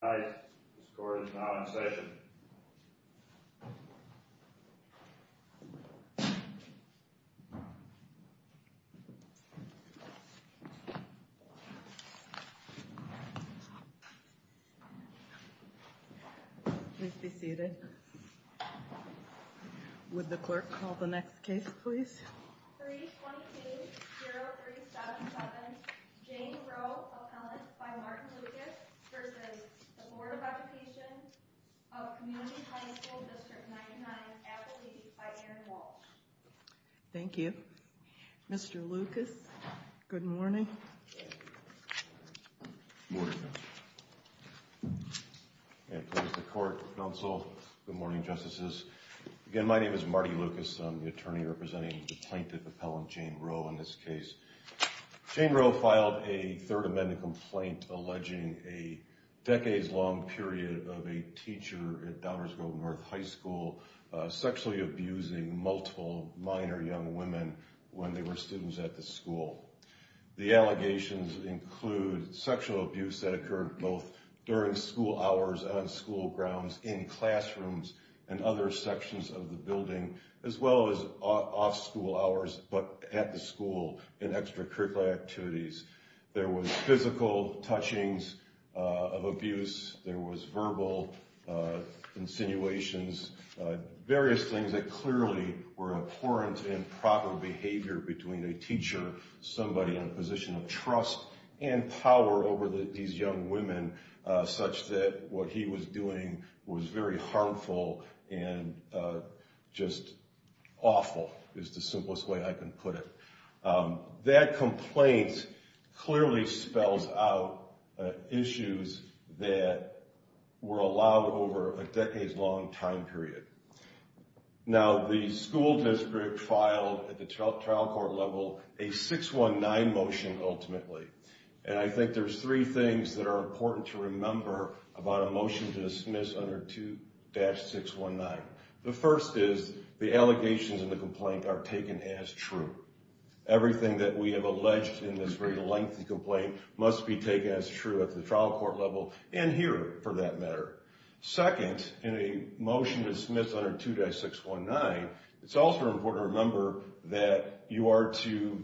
Tonight, Ms. Gordon is now in session. Please be seated. Would the clerk call the next case, please? 322-0377, Jane Roe, appellant by Martin Lucas v. Board of Education of Community High School District 99, appellate by Erin Walsh. Thank you. Mr. Lucas, good morning. Good morning. The plaintiff, Appellant Jane Roe, in this case. Jane Roe filed a Third Amendment complaint alleging a decades-long period of a teacher at Downers Grove North High School sexually abusing multiple minor young women when they were students at the school. The allegations include sexual abuse that occurred both during school hours on school grounds, in classrooms, and other sections of the building, as well as off school hours, but at the school in extracurricular activities. There was physical touchings of abuse. There was verbal insinuations, various things that clearly were abhorrent and improper behavior between a teacher, somebody in a position of trust and power over these young women, such that what he was doing was very harmful and just awful is the simplest way I can put it. That complaint clearly spells out issues that were allowed over a decades-long time period. Now, the school district filed at the trial court level a 619 motion, ultimately, and I think there's three things that are important to remember about a motion to dismiss under 2-619. The first is the allegations in the complaint are taken as true. Everything that we have alleged in this very lengthy complaint must be taken as true at the trial court level and here, for that matter. Second, in a motion to dismiss under 2-619, it's also important to remember that you are to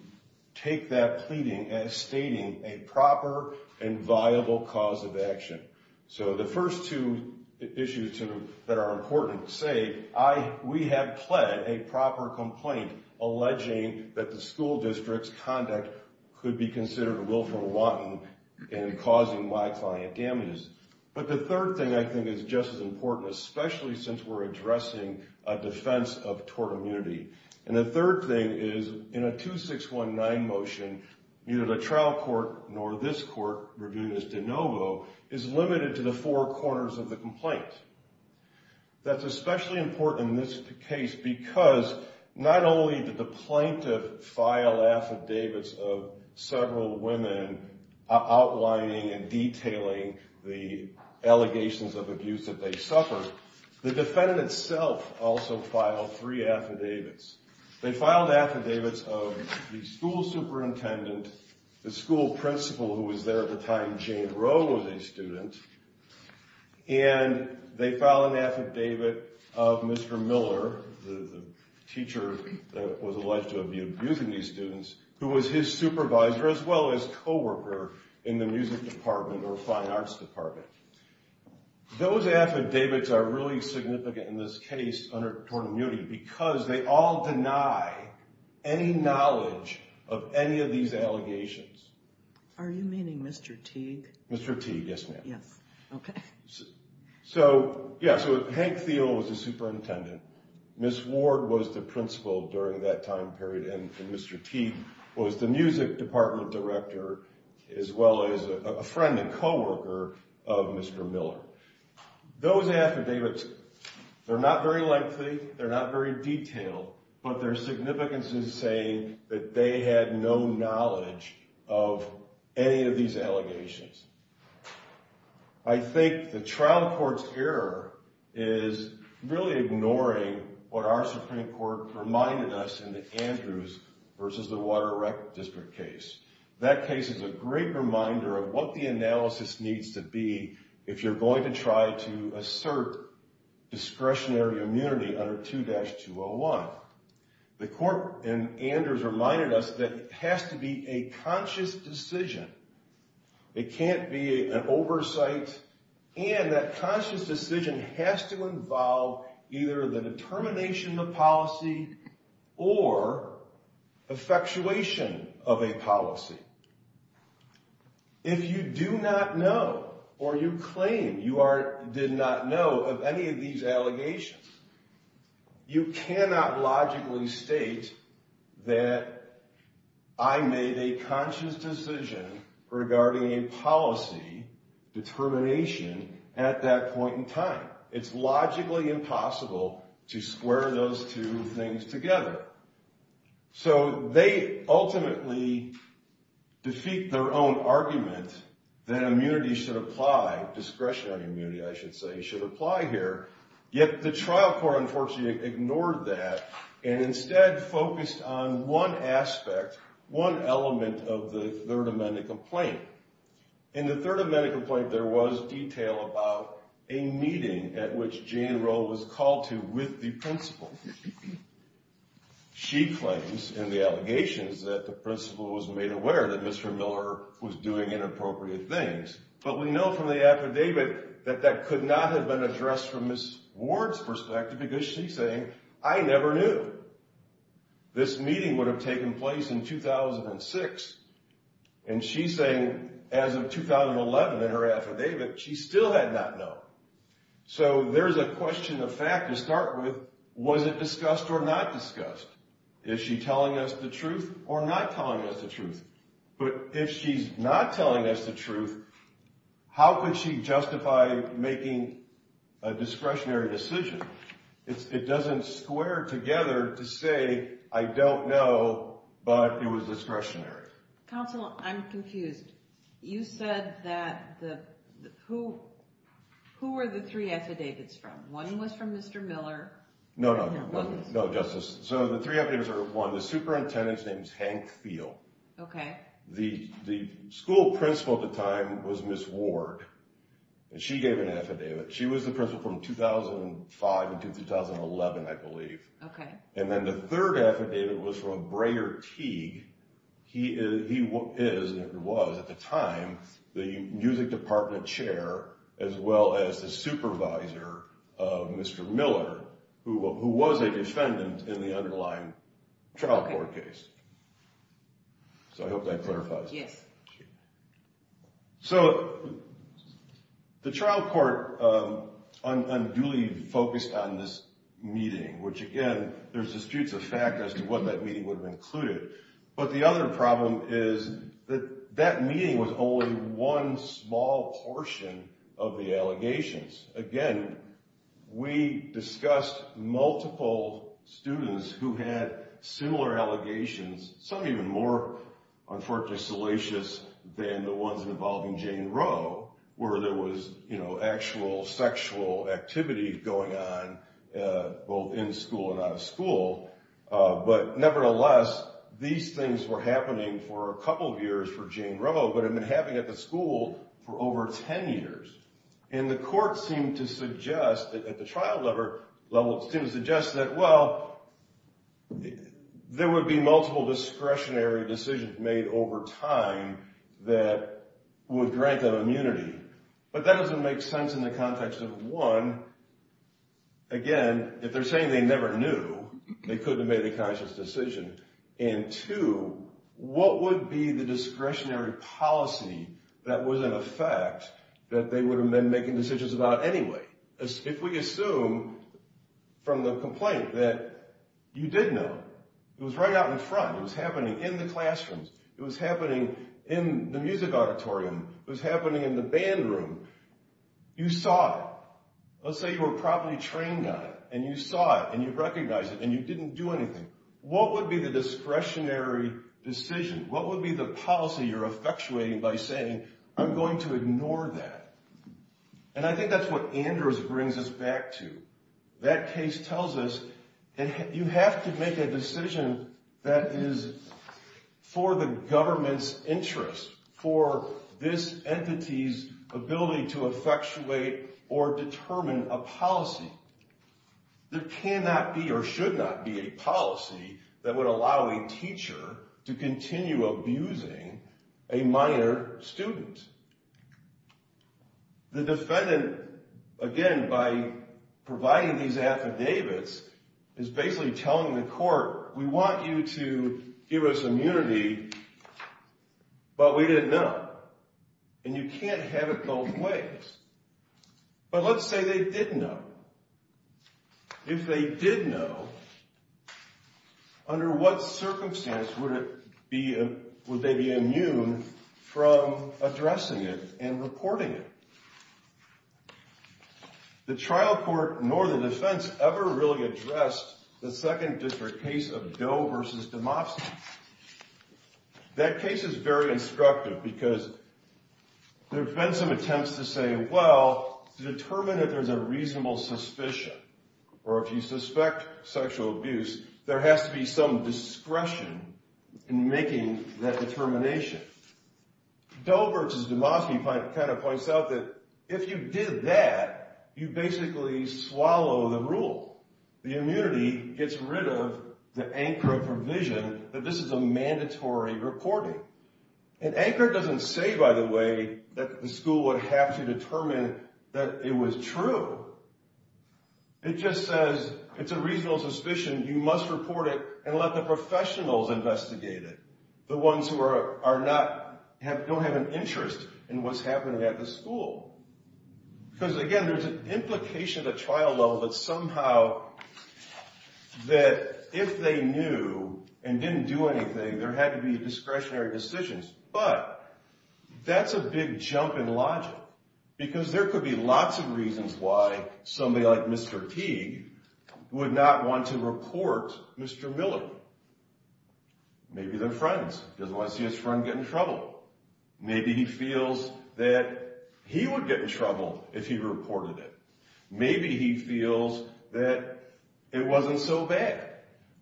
take that pleading as stating a proper and viable cause of action. So the first two issues that are important say, we have pled a proper complaint alleging that the school district's conduct could be considered a willful wanton in causing my client damage. But the third thing I think is just as important, especially since we're addressing a defense of tort immunity. And the third thing is, in a 2-619 motion, neither the trial court nor this court, Rabunis de Novo, is limited to the four corners of the complaint. That's especially important in this case because not only did the plaintiff file affidavits of several women outlining and detailing the allegations of abuse that they suffered, the defendant itself also filed three affidavits. They filed affidavits of the school superintendent, the school principal who was there at the time Jane Rowe was a student, and they filed an affidavit of Mr. Miller, the teacher that was alleged to have been abusing these students, who was his supervisor as well as co-worker in the music department or fine arts department. Those affidavits are really significant in this case under tort immunity because they all deny any knowledge of any of these allegations. Are you meaning Mr. Teague? Mr. Teague, yes ma'am. Yes, okay. So, yeah, so Hank Thiel was the superintendent, Miss Ward was the principal during that time period, and Mr. Teague was the music department director as well as a friend and co-worker of Mr. Miller. Those affidavits, they're not very lengthy, they're not very detailed, but their significance is saying that they had no knowledge of any of these allegations. I think the trial court's error is really ignoring what our Supreme Court reminded us in the Andrews versus the Water Rec District case. That case is a great reminder of what the analysis needs to be if you're going to try to assert discretionary immunity under 2-201. The court in Andrews reminded us that it has to be a conscious decision. It can't be an oversight and that conscious decision has to involve either the determination of the policy or effectuation of a policy. If you do not know or you claim you did not know of any of these allegations, you cannot logically state that I made a conscious decision regarding a policy determination at that point in time. It's logically impossible to square those two things together. So they ultimately defeat their own argument that immunity should apply, discretionary immunity I should say, should apply here. Yet the trial court unfortunately ignored that and instead focused on one aspect, one element of the Third Amendment complaint. In the Third Amendment complaint, there was detail about a meeting at which Jane Rowe was called to with the principal. She claims in the allegations that the principal was made aware that Mr. Miller was doing inappropriate things, but we know from the affidavit that that could not have been addressed from Ms. Ward's perspective because she's saying, I never knew this meeting would have taken place in 2006. And she's saying as of 2011 in her affidavit, she still had not known. So there is a question of fact to start with. Was it discussed or not discussed? Is she telling us the truth or not telling us the truth? But if she's not telling us the truth, how could she justify making a discretionary decision? It doesn't square together to say, I don't know, but it was discretionary. Counsel, I'm confused. You said that who were the three affidavits from? One was from Mr. Miller. No, no, no, Justice. So the three affidavits are one, the superintendent's name is Hank Field. Okay. The school principal at the time was Ms. Ward, and she gave an affidavit. She was the principal from 2005 until 2011, I believe. Okay. And then the third affidavit was from Breyer Teague. He is, and was at the time, the music department chair as well as the supervisor of Mr. Miller, who was a defendant in the underlying trial court case. So I hope that clarifies. Yes. So the trial court unduly focused on this meeting, which again, there's disputes of fact as to what that meeting would have included. But the other problem is that that meeting was only one small portion of the allegations. Again, we discussed multiple students who had similar allegations, some even more unfortunately salacious than the ones involving Jane Roe, where there was actual sexual activity going on both in school and out of school. But nevertheless, these things were happening for a couple of years for Jane Roe, but had been happening at the school for over 10 years. And the court seemed to suggest, at the trial level, seemed to suggest that, well, there would be multiple discretionary decisions made over time that would grant them immunity. But that doesn't make sense in the context of, one, again, if they're saying they never knew, they couldn't have made a conscious decision. And two, what would be the discretionary policy that was in effect that they would have been making decisions about anyway? If we assume from the complaint that you did know, it was right out in front. It was happening in the classrooms. It was happening in the music auditorium. It was happening in the band room. You saw it. Let's say you were properly trained on it, and you saw it, and you recognized it, and you didn't do anything. What would be the discretionary decision? What would be the policy you're effectuating by saying, I'm going to ignore that? And I think that's what Andrews brings us back to. That case tells us you have to make a decision that is for the government's interest, for this entity's ability to effectuate or determine a policy. There cannot be or should not be a policy that would allow a teacher to continue abusing a minor student. The defendant, again, by providing these affidavits, is basically telling the court, we want you to give us immunity, but we didn't know. And you can't have it both ways. But let's say they did know. If they did know, under what circumstance would they be immune from addressing it and reporting it? The trial court, nor the defense, ever really addressed the Second District case of Doe versus Demosthenes. That case is very instructive, because there have been some attempts to say, well, to determine if there's a reasonable suspicion, or if you suspect sexual abuse, there has to be some discretion in making that determination. Doe versus Demosthenes kind of points out that if you did that, you basically swallow the rule. The immunity gets rid of the ANCRA provision that this is a mandatory reporting. And ANCRA doesn't say, by the way, that the school would have to determine that it was true. It just says it's a reasonable suspicion. You must report it and let the professionals investigate it, the ones who don't have an interest in what's happening at the school. Because, again, there's an implication at the trial level that somehow that if they knew and didn't do anything, there had to be discretionary decisions. But that's a big jump in logic, because there could be lots of reasons why somebody like Mr. Teague would not want to report Mr. Miller. Maybe they're friends, doesn't want to see his friend get in trouble. Maybe he feels that he would get in trouble if he reported it. Maybe he feels that it wasn't so bad.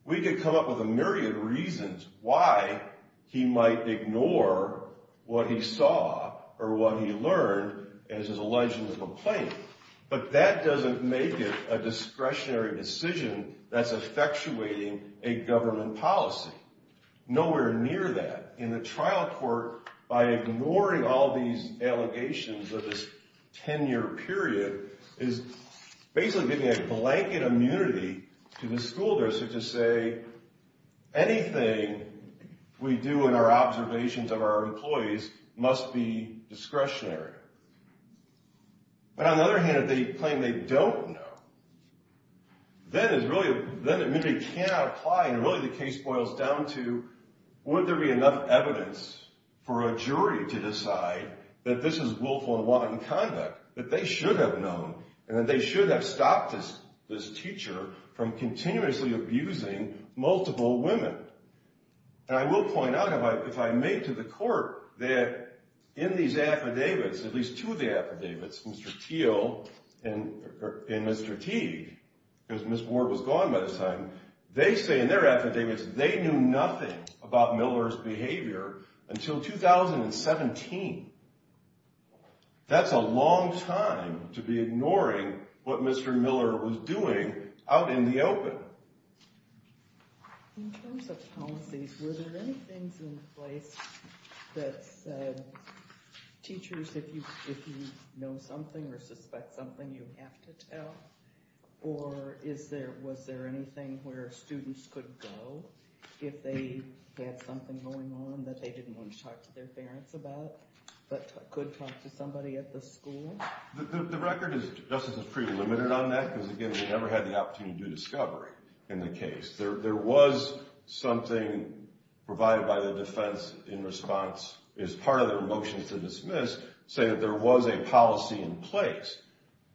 We could come up with a myriad of reasons why he might ignore what he saw or what he learned as his alleged complaint. But that doesn't make it a discretionary decision that's effectuating a government policy. Nowhere near that. In the trial court, by ignoring all these allegations of this 10-year period, is basically giving a blanket immunity to the school district to say, anything we do in our observations of our employees must be discretionary. But on the other hand, if they claim they don't know, then immunity cannot apply, and really the case boils down to, would there be enough evidence for a jury to decide that this is willful and wanton conduct, that they should have known, and that they should have stopped this teacher from continuously abusing multiple women? And I will point out, if I make to the court, that in these affidavits, at least two of the affidavits, Mr. Teague and Mr. Teague, because Ms. Ward was gone by the time, they say in their affidavits they knew nothing about Miller's behavior until 2017. That's a long time to be ignoring what Mr. Miller was doing out in the open. In terms of policies, were there any things in place that said, teachers, if you know something or suspect something, you have to tell? Or was there anything where students could go if they had something going on that they didn't want to talk to their parents about, but could talk to somebody at the school? The record is pretty limited on that, because again, we never had the opportunity to do discovery in the case. There was something provided by the defense in response, as part of their motion to dismiss, say that there was a policy in place.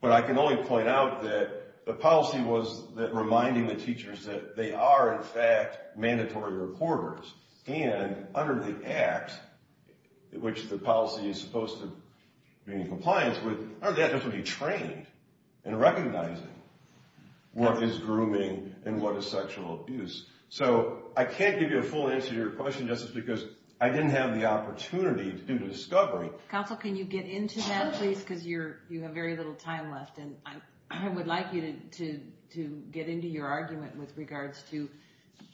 But I can only point out that the policy was reminding the teachers that they are, in fact, mandatory reporters. And under the Act, which the policy is supposed to be in compliance with, under the Act they have to be trained in recognizing what is grooming and what is sexual abuse. So I can't give you a full answer to your question just because I didn't have the opportunity to do the discovery. Counsel, can you get into that, please, because you have very little time left. And I would like you to get into your argument with regards to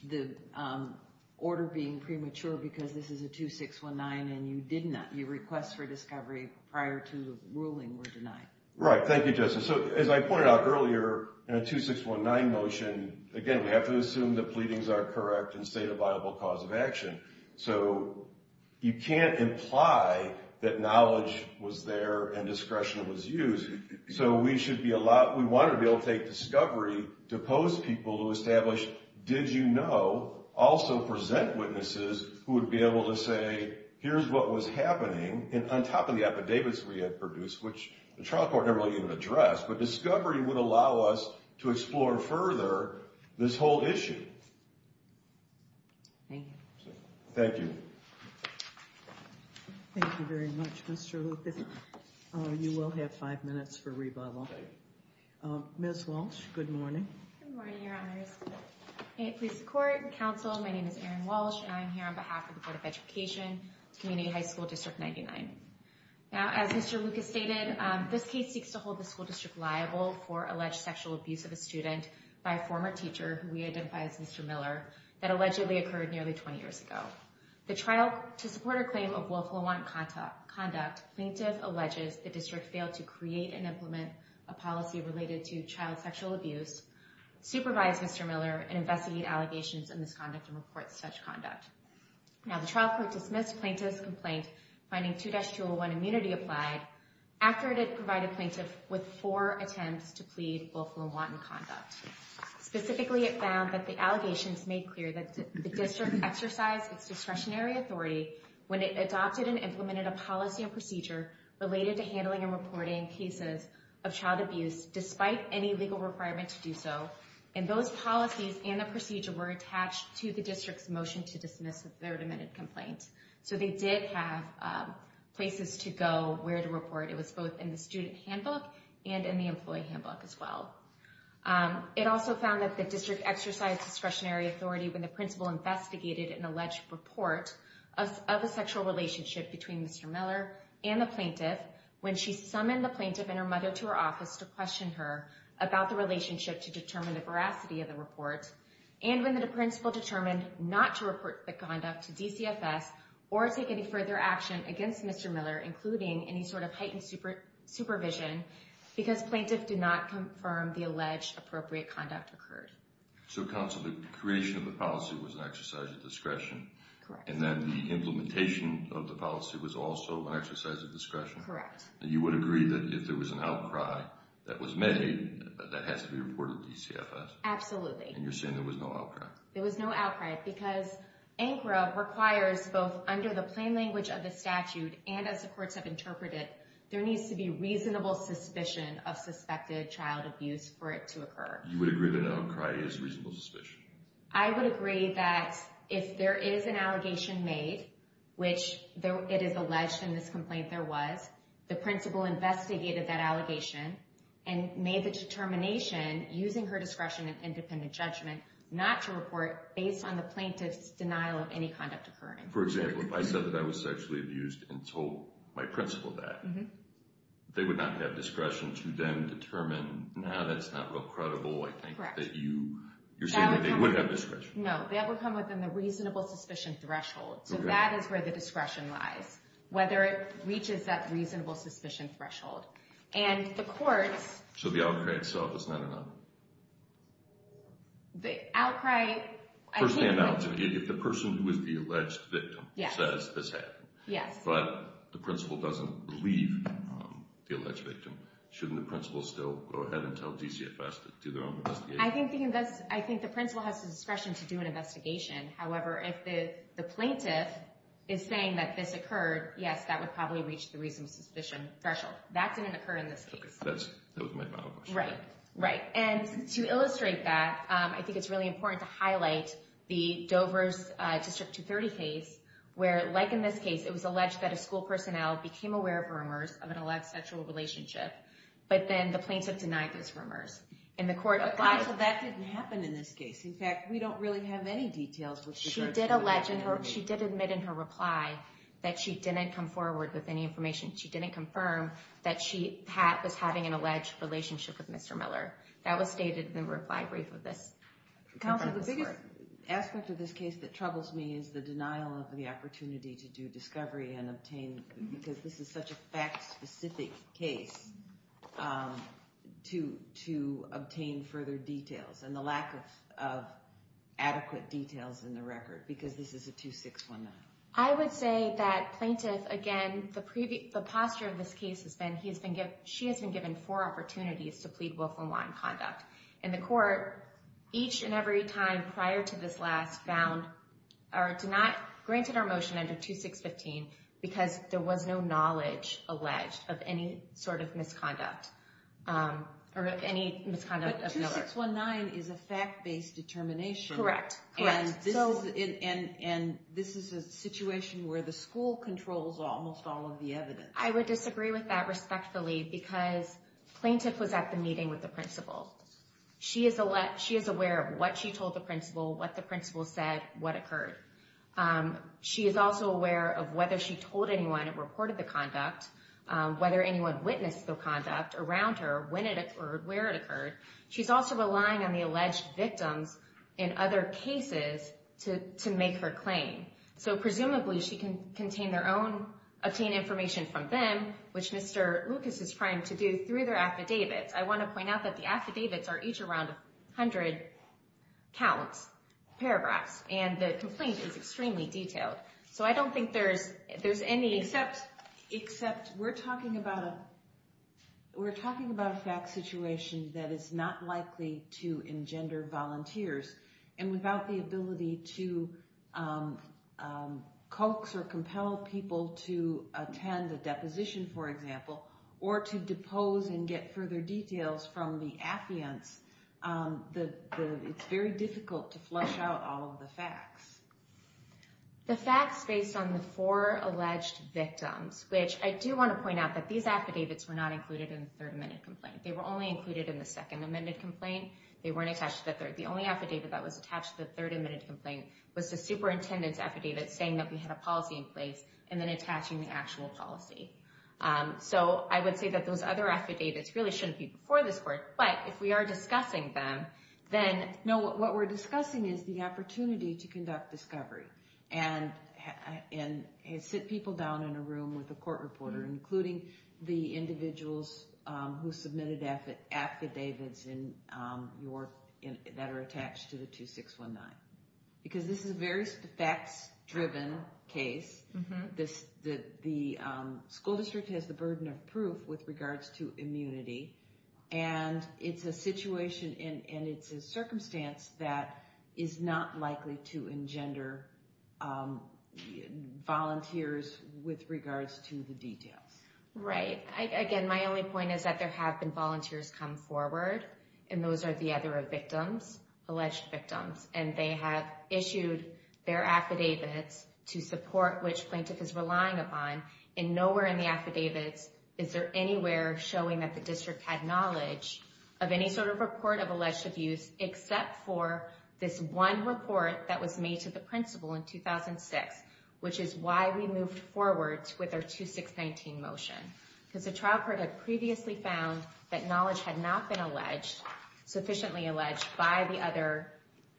the order being premature because this is a 2619 and you did not, your requests for discovery prior to ruling were denied. Right. Thank you, Justice. So as I pointed out earlier, in a 2619 motion, again, we have to assume the pleadings are correct and state a viable cause of action. So you can't imply that knowledge was there and discretion was used. So we should be allowed, we want to be able to take discovery to pose people to establish, did you know, also present witnesses who would be able to say, here's what was happening. And on top of the affidavits we had produced, which the trial court never really even addressed, but discovery would allow us to explore further this whole issue. Thank you. Thank you. Thank you very much, Mr. Lucas. You will have five minutes for rebuttal. Ms. Walsh, good morning. Good morning, Your Honors. Please support counsel. My name is Erin Walsh, and I'm here on behalf of the Board of Education, Community High School District 99. Now, as Mr. Lucas stated, this case seeks to hold the school district liable for alleged sexual abuse of a student by a former teacher, who we identify as Mr. Miller, that allegedly occurred nearly 20 years ago. The trial, to support a claim of willful and wanton conduct, plaintiff alleges the district failed to create and implement a policy related to child sexual abuse, supervise Mr. Miller, and investigate allegations of misconduct and report such conduct. Now, the trial court dismissed plaintiff's complaint, finding 2-201 immunity applied, after it had provided plaintiff with four attempts to plead willful and wanton conduct. Specifically, it found that the allegations made clear that the district exercised its discretionary authority when it adopted and implemented a policy and procedure related to handling and reporting cases of child abuse, despite any legal requirement to do so. And those policies and the procedure were attached to the district's motion to dismiss their demented complaint. So they did have places to go where to report. It was both in the student handbook and in the employee handbook as well. It also found that the district exercised discretionary authority when the principal investigated an alleged report of a sexual relationship between Mr. Miller and the plaintiff, when she summoned the plaintiff and her mother to her office to question her about the relationship to determine the veracity of the report, and when the principal determined not to report the conduct to DCFS or take any further action against Mr. Miller, including any sort of heightened supervision, because plaintiff did not confirm the alleged appropriate conduct occurred. So counsel, the creation of the policy was an exercise of discretion? Correct. And then the implementation of the policy was also an exercise of discretion? Correct. And you would agree that if there was an outcry that was made, that has to be reported to DCFS? Absolutely. And you're saying there was no outcry? There was no outcry, because ANCRA requires both under the plain language of the statute and as the courts have interpreted, there needs to be reasonable suspicion of suspected child abuse for it to occur. You would agree that an outcry is reasonable suspicion? I would agree that if there is an allegation made, which it is alleged in this complaint there was, the principal investigated that allegation and made the determination, using her discretion and independent judgment, not to report based on the plaintiff's denial of any conduct occurring. For example, if I said that I was sexually abused and told my principal that, they would not have discretion to then determine, no, that's not real credible. I think that you're saying that they would have discretion. No, that would come within the reasonable suspicion threshold. So that is where the discretion lies, whether it reaches that reasonable suspicion threshold. And the courts... So the outcry itself is not an outcry? The outcry... It would never stand out if the person who is the alleged victim says this happened. Yes. But the principal doesn't believe the alleged victim. Shouldn't the principal still go ahead and tell DCFS to do their own investigation? I think the principal has the discretion to do an investigation. However, if the plaintiff is saying that this occurred, yes, that would probably reach the reasonable suspicion threshold. That didn't occur in this case. That was my final question. Right. And to illustrate that, I think it's really important to highlight the Dover's District 230 case, where, like in this case, it was alleged that a school personnel became aware of rumors of an alleged sexual relationship, but then the plaintiff denied those rumors. And the court applied... Counsel, that didn't happen in this case. In fact, we don't really have any details... She did admit in her reply that she didn't come forward with any information. She didn't confirm that she was having an alleged relationship with Mr. Miller. That was stated in the reply brief of this court. Counsel, the biggest aspect of this case that troubles me is the denial of the opportunity to do discovery and obtain... because this is such a fact-specific case, to obtain further details, and the lack of adequate details in the record, because this is a 2619. I would say that plaintiff, again, the posture of this case has been, she has been given four opportunities to plead willful in line conduct. And the court, each and every time prior to this last, found, or granted our motion under 2615, because there was no knowledge alleged of any sort of misconduct, or any misconduct of Miller. But 2619 is a fact-based determination. Correct. Correct. And this is a situation where the school controls almost all of the evidence. I would disagree with that respectfully, because plaintiff was at the meeting with the principal. She is aware of what she told the principal, what the principal said, what occurred. She is also aware of whether she told anyone and reported the conduct, whether anyone witnessed the conduct around her, when it occurred, where it occurred. She's also relying on the alleged victims in other cases to make her claim. So presumably she can contain their own, obtain information from them, which Mr. Lucas is trying to do through their affidavits. I want to point out that the affidavits are each around 100 counts, paragraphs, and the complaint is extremely detailed. So I don't think there's any... Except we're talking about a fact situation that is not likely to engender volunteers. And without the ability to coax or compel people to attend a deposition, for example, or to depose and get further details from the affiants, it's very difficult to flush out all of the facts. The facts based on the four alleged victims, which I do want to point out that these affidavits were not included in the 3rd Amendment complaint. They were only included in the 2nd Amendment complaint. They weren't attached to the 3rd. The only affidavit that was attached to the 3rd Amendment complaint was the superintendent's affidavit saying that we had a policy in place and then attaching the actual policy. So I would say that those other affidavits really shouldn't be before this Court. But if we are discussing them, then... And sit people down in a room with a court reporter, including the individuals who submitted affidavits that are attached to the 2619. Because this is a very facts-driven case. The school district has the burden of proof with regards to immunity. And it's a situation and it's a circumstance that is not likely to engender volunteers with regards to the details. Right. Again, my only point is that there have been volunteers come forward. And those are the other victims, alleged victims. And they have issued their affidavits to support which plaintiff is relying upon. And nowhere in the affidavits is there anywhere showing that the district had knowledge of any sort of report of alleged abuse. Except for this one report that was made to the principal in 2006. Which is why we moved forward with our 2619 motion. Because the trial court had previously found that knowledge had not been sufficiently alleged by the other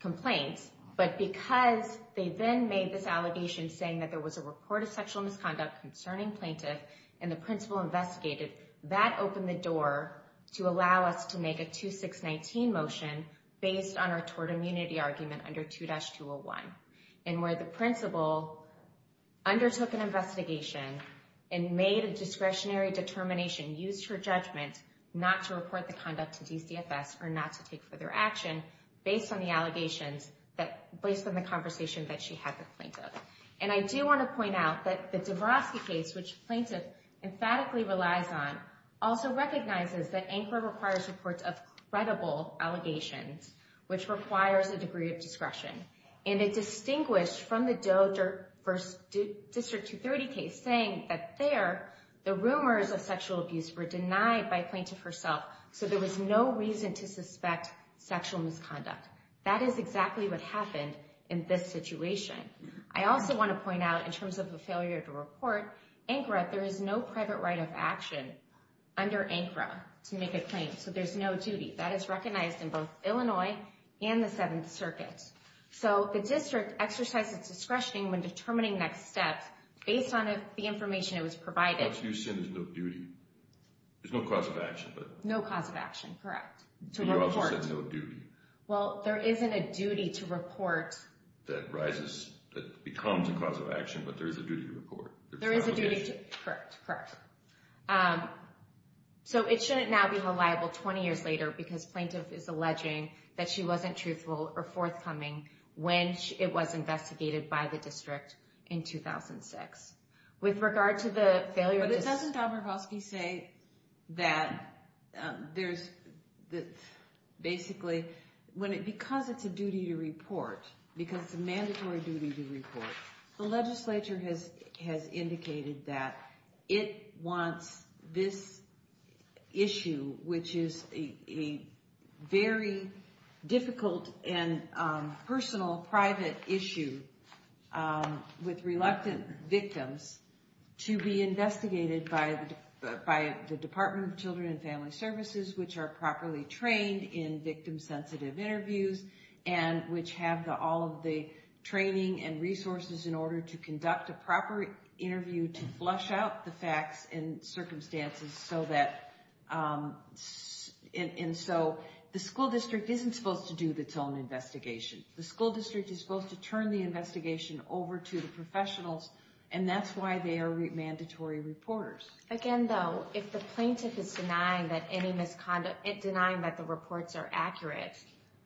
complaints. But because they then made this allegation saying that there was a report of sexual misconduct concerning plaintiff and the principal investigated, that opened the door to allow us to make a 2619 motion based on our tort immunity argument under 2-201. And where the principal undertook an investigation and made a discretionary determination, used her judgment not to report the conduct to DCFS or not to take further action based on the allegations, based on the conversation that she had with plaintiff. And I do want to point out that the Dabrowski case, which plaintiff emphatically relies on, also recognizes that ANCRA requires reports of credible allegations, which requires a degree of discretion. And it distinguished from the Doe v. District 230 case saying that there, the rumors of sexual abuse were denied by plaintiff herself. So there was no reason to suspect sexual misconduct. That is exactly what happened in this situation. I also want to point out, in terms of a failure to report, ANCRA, there is no private right of action under ANCRA to make a claim. So there's no duty. That is recognized in both Illinois and the Seventh Circuit. So the district exercised its discretion in determining next steps based on the information that was provided. What you're saying is no duty. There's no cause of action. No cause of action, correct. You also said no duty. Well, there isn't a duty to report. That rises, that becomes a cause of action, but there is a duty to report. There is a duty to, correct, correct. So it shouldn't now be liable 20 years later because plaintiff is alleging that she wasn't truthful or forthcoming when it was investigated by the district in 2006. With regard to the failure to... issue, which is a very difficult and personal private issue with reluctant victims, to be investigated by the Department of Children and Family Services, which are properly trained in victim-sensitive interviews, which have all of the training and resources in order to conduct a proper interview to flush out the facts and circumstances so that... And so the school district isn't supposed to do its own investigation. The school district is supposed to turn the investigation over to the professionals, and that's why they are mandatory reporters. Again, though, if the plaintiff is denying that any misconduct, denying that the reports are accurate,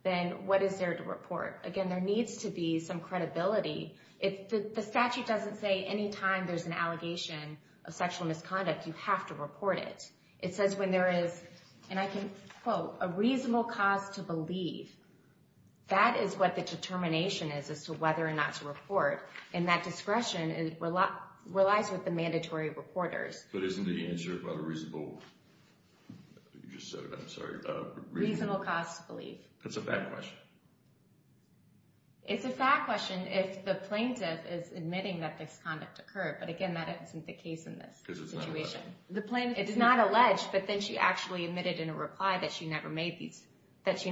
then what is there to report? Again, there needs to be some credibility. If the statute doesn't say any time there's an allegation of sexual misconduct, you have to report it. It says when there is, and I can quote, a reasonable cause to believe, that is what the determination is as to whether or not to report. And that discretion relies with the mandatory reporters. But isn't the answer about a reasonable... You just said it, I'm sorry. Reasonable cause to believe. That's a fact question. It's a fact question if the plaintiff is admitting that this conduct occurred, but again, that isn't the case in this situation. Because it's not alleged. It's not alleged, but then she actually admitted in a reply that she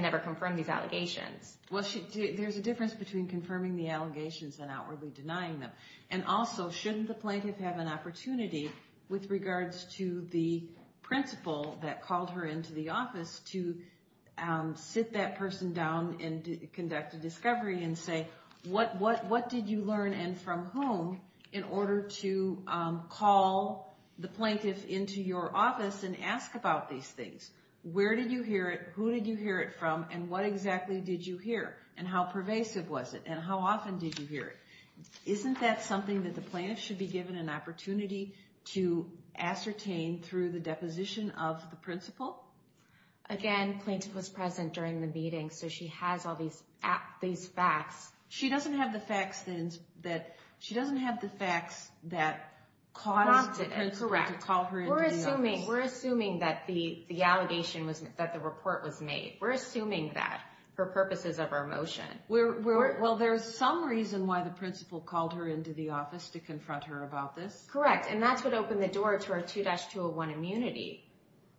never confirmed these allegations. Well, there's a difference between confirming the allegations and outwardly denying them. And also, shouldn't the plaintiff have an opportunity with regards to the principal that called her into the office to sit that person down and conduct a discovery and say, what did you learn and from whom in order to call the plaintiff into your office and ask about these things? Where did you hear it? Who did you hear it from? And what exactly did you hear? And how pervasive was it? And how often did you hear it? Isn't that something that the plaintiff should be given an opportunity to ascertain through the deposition of the principal? Again, plaintiff was present during the meeting, so she has all these facts. She doesn't have the facts that caused the principal to call her into the office. We're assuming that the report was made. We're assuming that for purposes of our motion. Well, there's some reason why the principal called her into the office to confront her about this. Correct. And that's what opened the door to her 2-201 immunity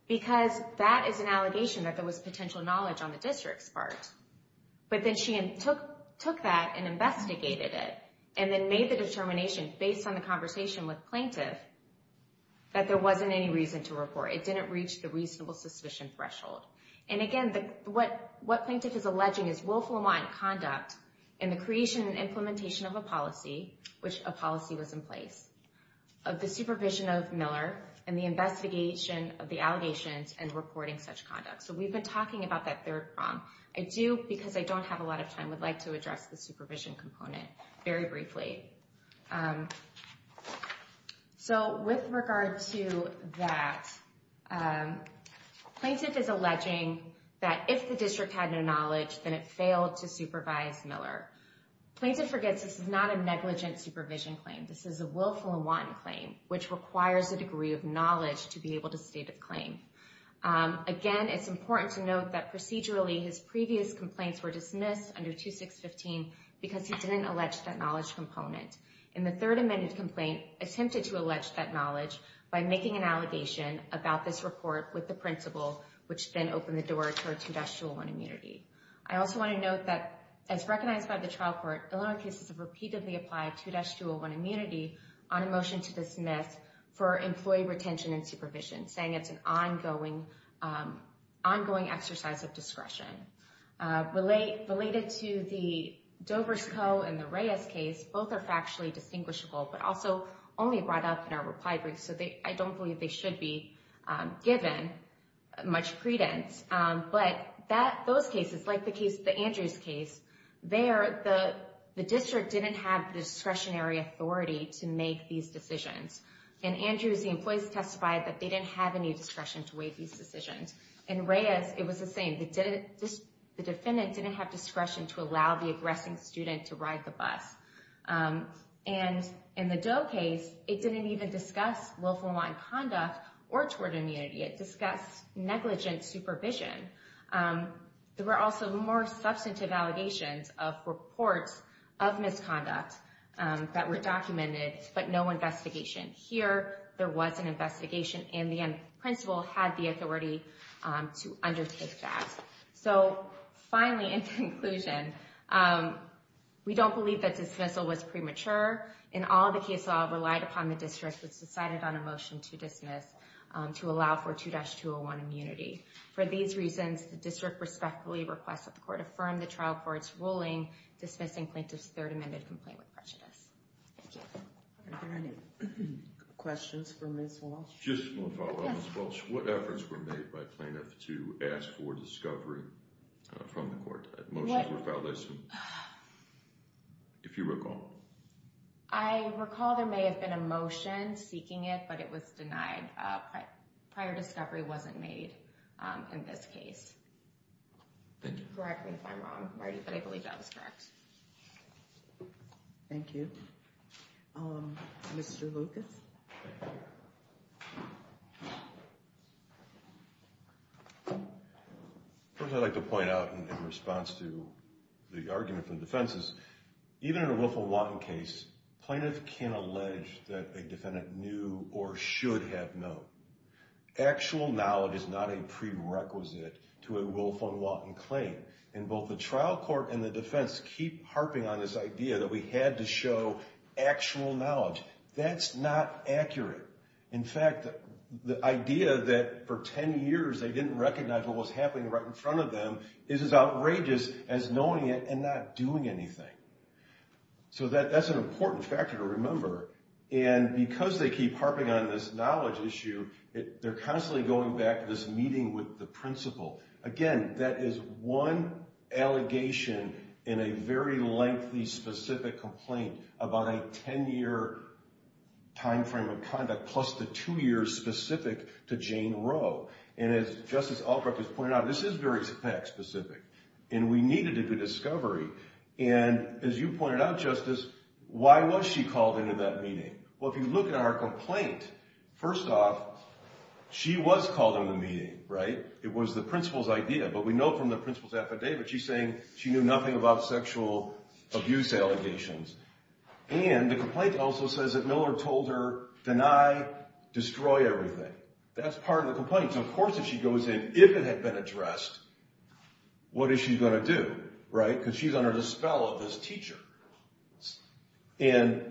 because that is an allegation that there was potential knowledge on the district's part. But then she took that and investigated it and then made the determination based on the conversation with plaintiff that there wasn't any reason to report. It didn't reach the reasonable suspicion threshold. And again, what plaintiff is alleging is willful and wise conduct in the creation and implementation of a policy, which a policy was in place, of the supervision of Miller and the investigation of the allegations and reporting such conduct. So we've been talking about that third prong. I do, because I don't have a lot of time, would like to address the supervision component very briefly. So with regard to that, plaintiff is alleging that if the district had no knowledge, then it failed to supervise Miller. Plaintiff forgets this is not a negligent supervision claim. This is a willful and wanton claim, which requires a degree of knowledge to be able to state a claim. Again, it's important to note that procedurally his previous complaints were dismissed under 2615 because he didn't allege that knowledge component. And the third amended complaint attempted to allege that knowledge by making an allegation about this report with the principal, which then opened the door to a 2-201 immunity. I also want to note that as recognized by the trial court, Illinois cases have repeatedly applied 2-201 immunity on a motion to dismiss for employee retention and supervision, saying it's an ongoing exercise of discretion. Related to the Dover's Co. and the Reyes case, both are factually distinguishable, but also only brought up in our reply brief. So I don't believe they should be given much credence. But those cases, like the Andrews case, there, the district didn't have the discretionary authority to make these decisions. In Andrews, the employees testified that they didn't have any discretion to make these decisions. In Reyes, it was the same. The defendant didn't have discretion to allow the aggressing student to ride the bus. And in the Dover case, it didn't even discuss willful and wanton conduct or toward immunity. It discussed negligent supervision. There were also more substantive allegations of reports of misconduct that were documented, but no investigation. Here, there was an investigation, and the principal had the authority to undertake that. So finally, in conclusion, we don't believe that dismissal was premature. In all of the case law, it relied upon the district, which decided on a motion to dismiss, to allow for 2-201 immunity. For these reasons, the district respectfully requests that the court affirm the trial court's ruling dismissing plaintiff's third amended complaint with prejudice. Thank you. Are there any questions for Ms. Walsh? Just one follow-up, Ms. Walsh. Yes. What efforts were made by plaintiff to ask for discovery from the court? What? If you recall. I recall there may have been a motion seeking it, but it was denied. Prior discovery wasn't made in this case. Thank you. Correct me if I'm wrong, Marty, but I believe that was correct. Thank you. Mr. Lucas? First, I'd like to point out, in response to the argument from the defenses, even in a Wolf v. Walton case, plaintiff can allege that a defendant knew or should have known. Actual knowledge is not a prerequisite to a Wolf v. Walton claim. And both the trial court and the defense keep harping on this idea that we had to show actual knowledge. That's not accurate. In fact, the idea that for 10 years they didn't recognize what was happening right in front of them is as outrageous as knowing it and not doing anything. So that's an important factor to remember. And because they keep harping on this knowledge issue, they're constantly going back to this meeting with the principal. Again, that is one allegation in a very lengthy, specific complaint about a 10-year time frame of conduct, plus the two years specific to Jane Roe. And as Justice Albrook has pointed out, this is very fact-specific, and we needed to do discovery. And as you pointed out, Justice, why was she called into that meeting? Well, if you look at our complaint, first off, she was called into the meeting, right? It was the principal's idea, but we know from the principal's affidavit she's saying she knew nothing about sexual abuse allegations. And the complaint also says that Miller told her, deny, destroy everything. That's part of the complaint. So, of course, if she goes in, if it had been addressed, what is she going to do, right? Because she's under the spell of this teacher. And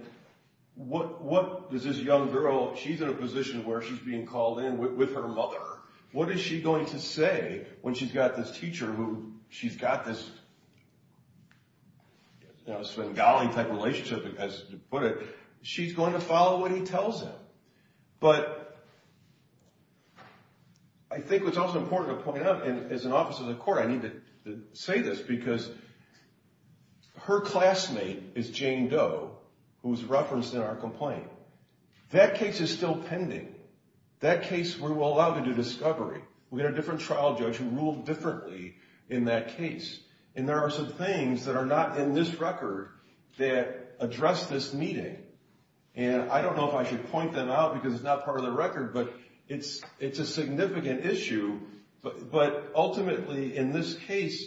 what does this young girl, she's in a position where she's being called in with her mother. What is she going to say when she's got this teacher who she's got this, you know, Svengali-type relationship, as you put it. She's going to follow what he tells her. But I think what's also important to point out, and as an officer of the court, I need to say this, because her classmate is Jane Doe, who was referenced in our complaint. That case is still pending. That case, we were allowed to do discovery. We had a different trial judge who ruled differently in that case. And there are some things that are not in this record that address this meeting. And I don't know if I should point them out because it's not part of the record, but it's a significant issue. But ultimately, in this case,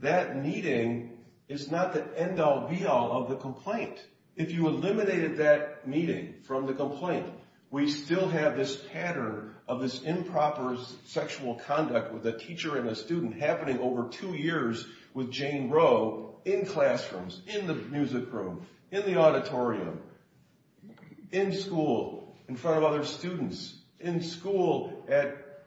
that meeting is not the end-all, be-all of the complaint. If you eliminated that meeting from the complaint, we still have this pattern of this improper sexual conduct with a teacher and a student happening over two years with Jane Roe in classrooms, in the music room, in the auditorium. In school, in front of other students. In school, at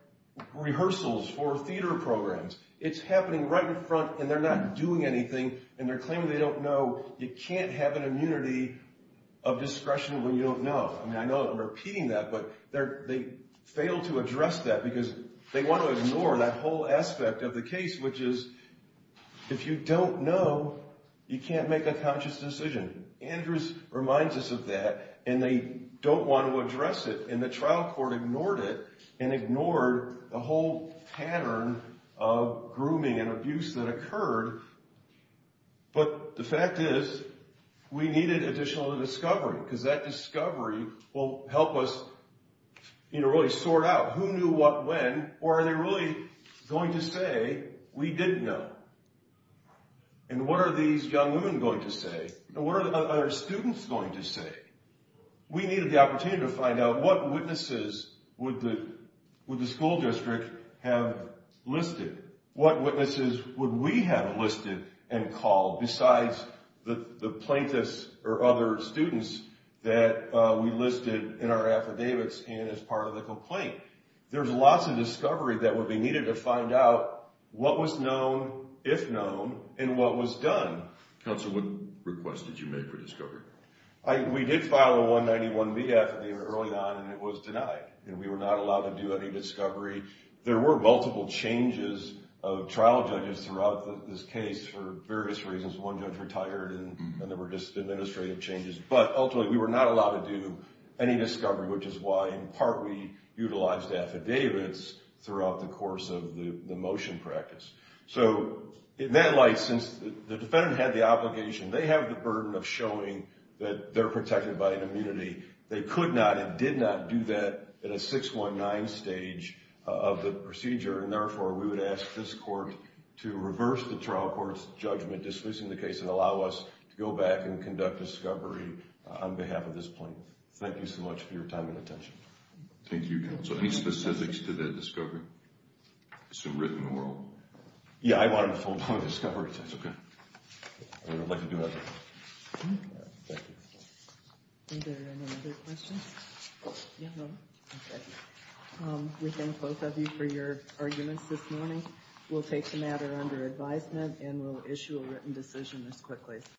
rehearsals for theater programs. It's happening right in front, and they're not doing anything, and they're claiming they don't know. You can't have an immunity of discretion when you don't know. I mean, I know I'm repeating that, but they fail to address that because they want to ignore that whole aspect of the case, which is if you don't know, you can't make a conscious decision. Andrews reminds us of that, and they don't want to address it, and the trial court ignored it and ignored the whole pattern of grooming and abuse that occurred. But the fact is, we needed additional discovery, because that discovery will help us really sort out who knew what when, or are they really going to say, we didn't know? And what are these young women going to say? What are our students going to say? We needed the opportunity to find out what witnesses would the school district have listed? What witnesses would we have listed and called, besides the plaintiffs or other students that we listed in our affidavits and as part of the complaint? There's lots of discovery that would be needed to find out what was known, if known, and what was done. Counsel, what request did you make for discovery? We did file a 191B affidavit early on, and it was denied, and we were not allowed to do any discovery. There were multiple changes of trial judges throughout this case for various reasons. One judge retired, and there were just administrative changes. But ultimately, we were not allowed to do any discovery, which is why, in part, we utilized affidavits throughout the course of the motion practice. So in that light, since the defendant had the obligation, they have the burden of showing that they're protected by an immunity. They could not and did not do that in a 619 stage of the procedure, and therefore, we would ask this court to reverse the trial court's judgment, dismissing the case, and allow us to go back and conduct discovery on behalf of this plaintiff. Thank you so much for your time and attention. Thank you, Counsel. Any specifics to the discovery? It's been written in the world. Yeah, I wanted a full-blown discovery test. Okay. I'd like to do that. Thank you. Are there any other questions? No? Okay. We thank both of you for your arguments this morning. We'll take the matter under advisement and we'll issue a written decision as quickly as possible.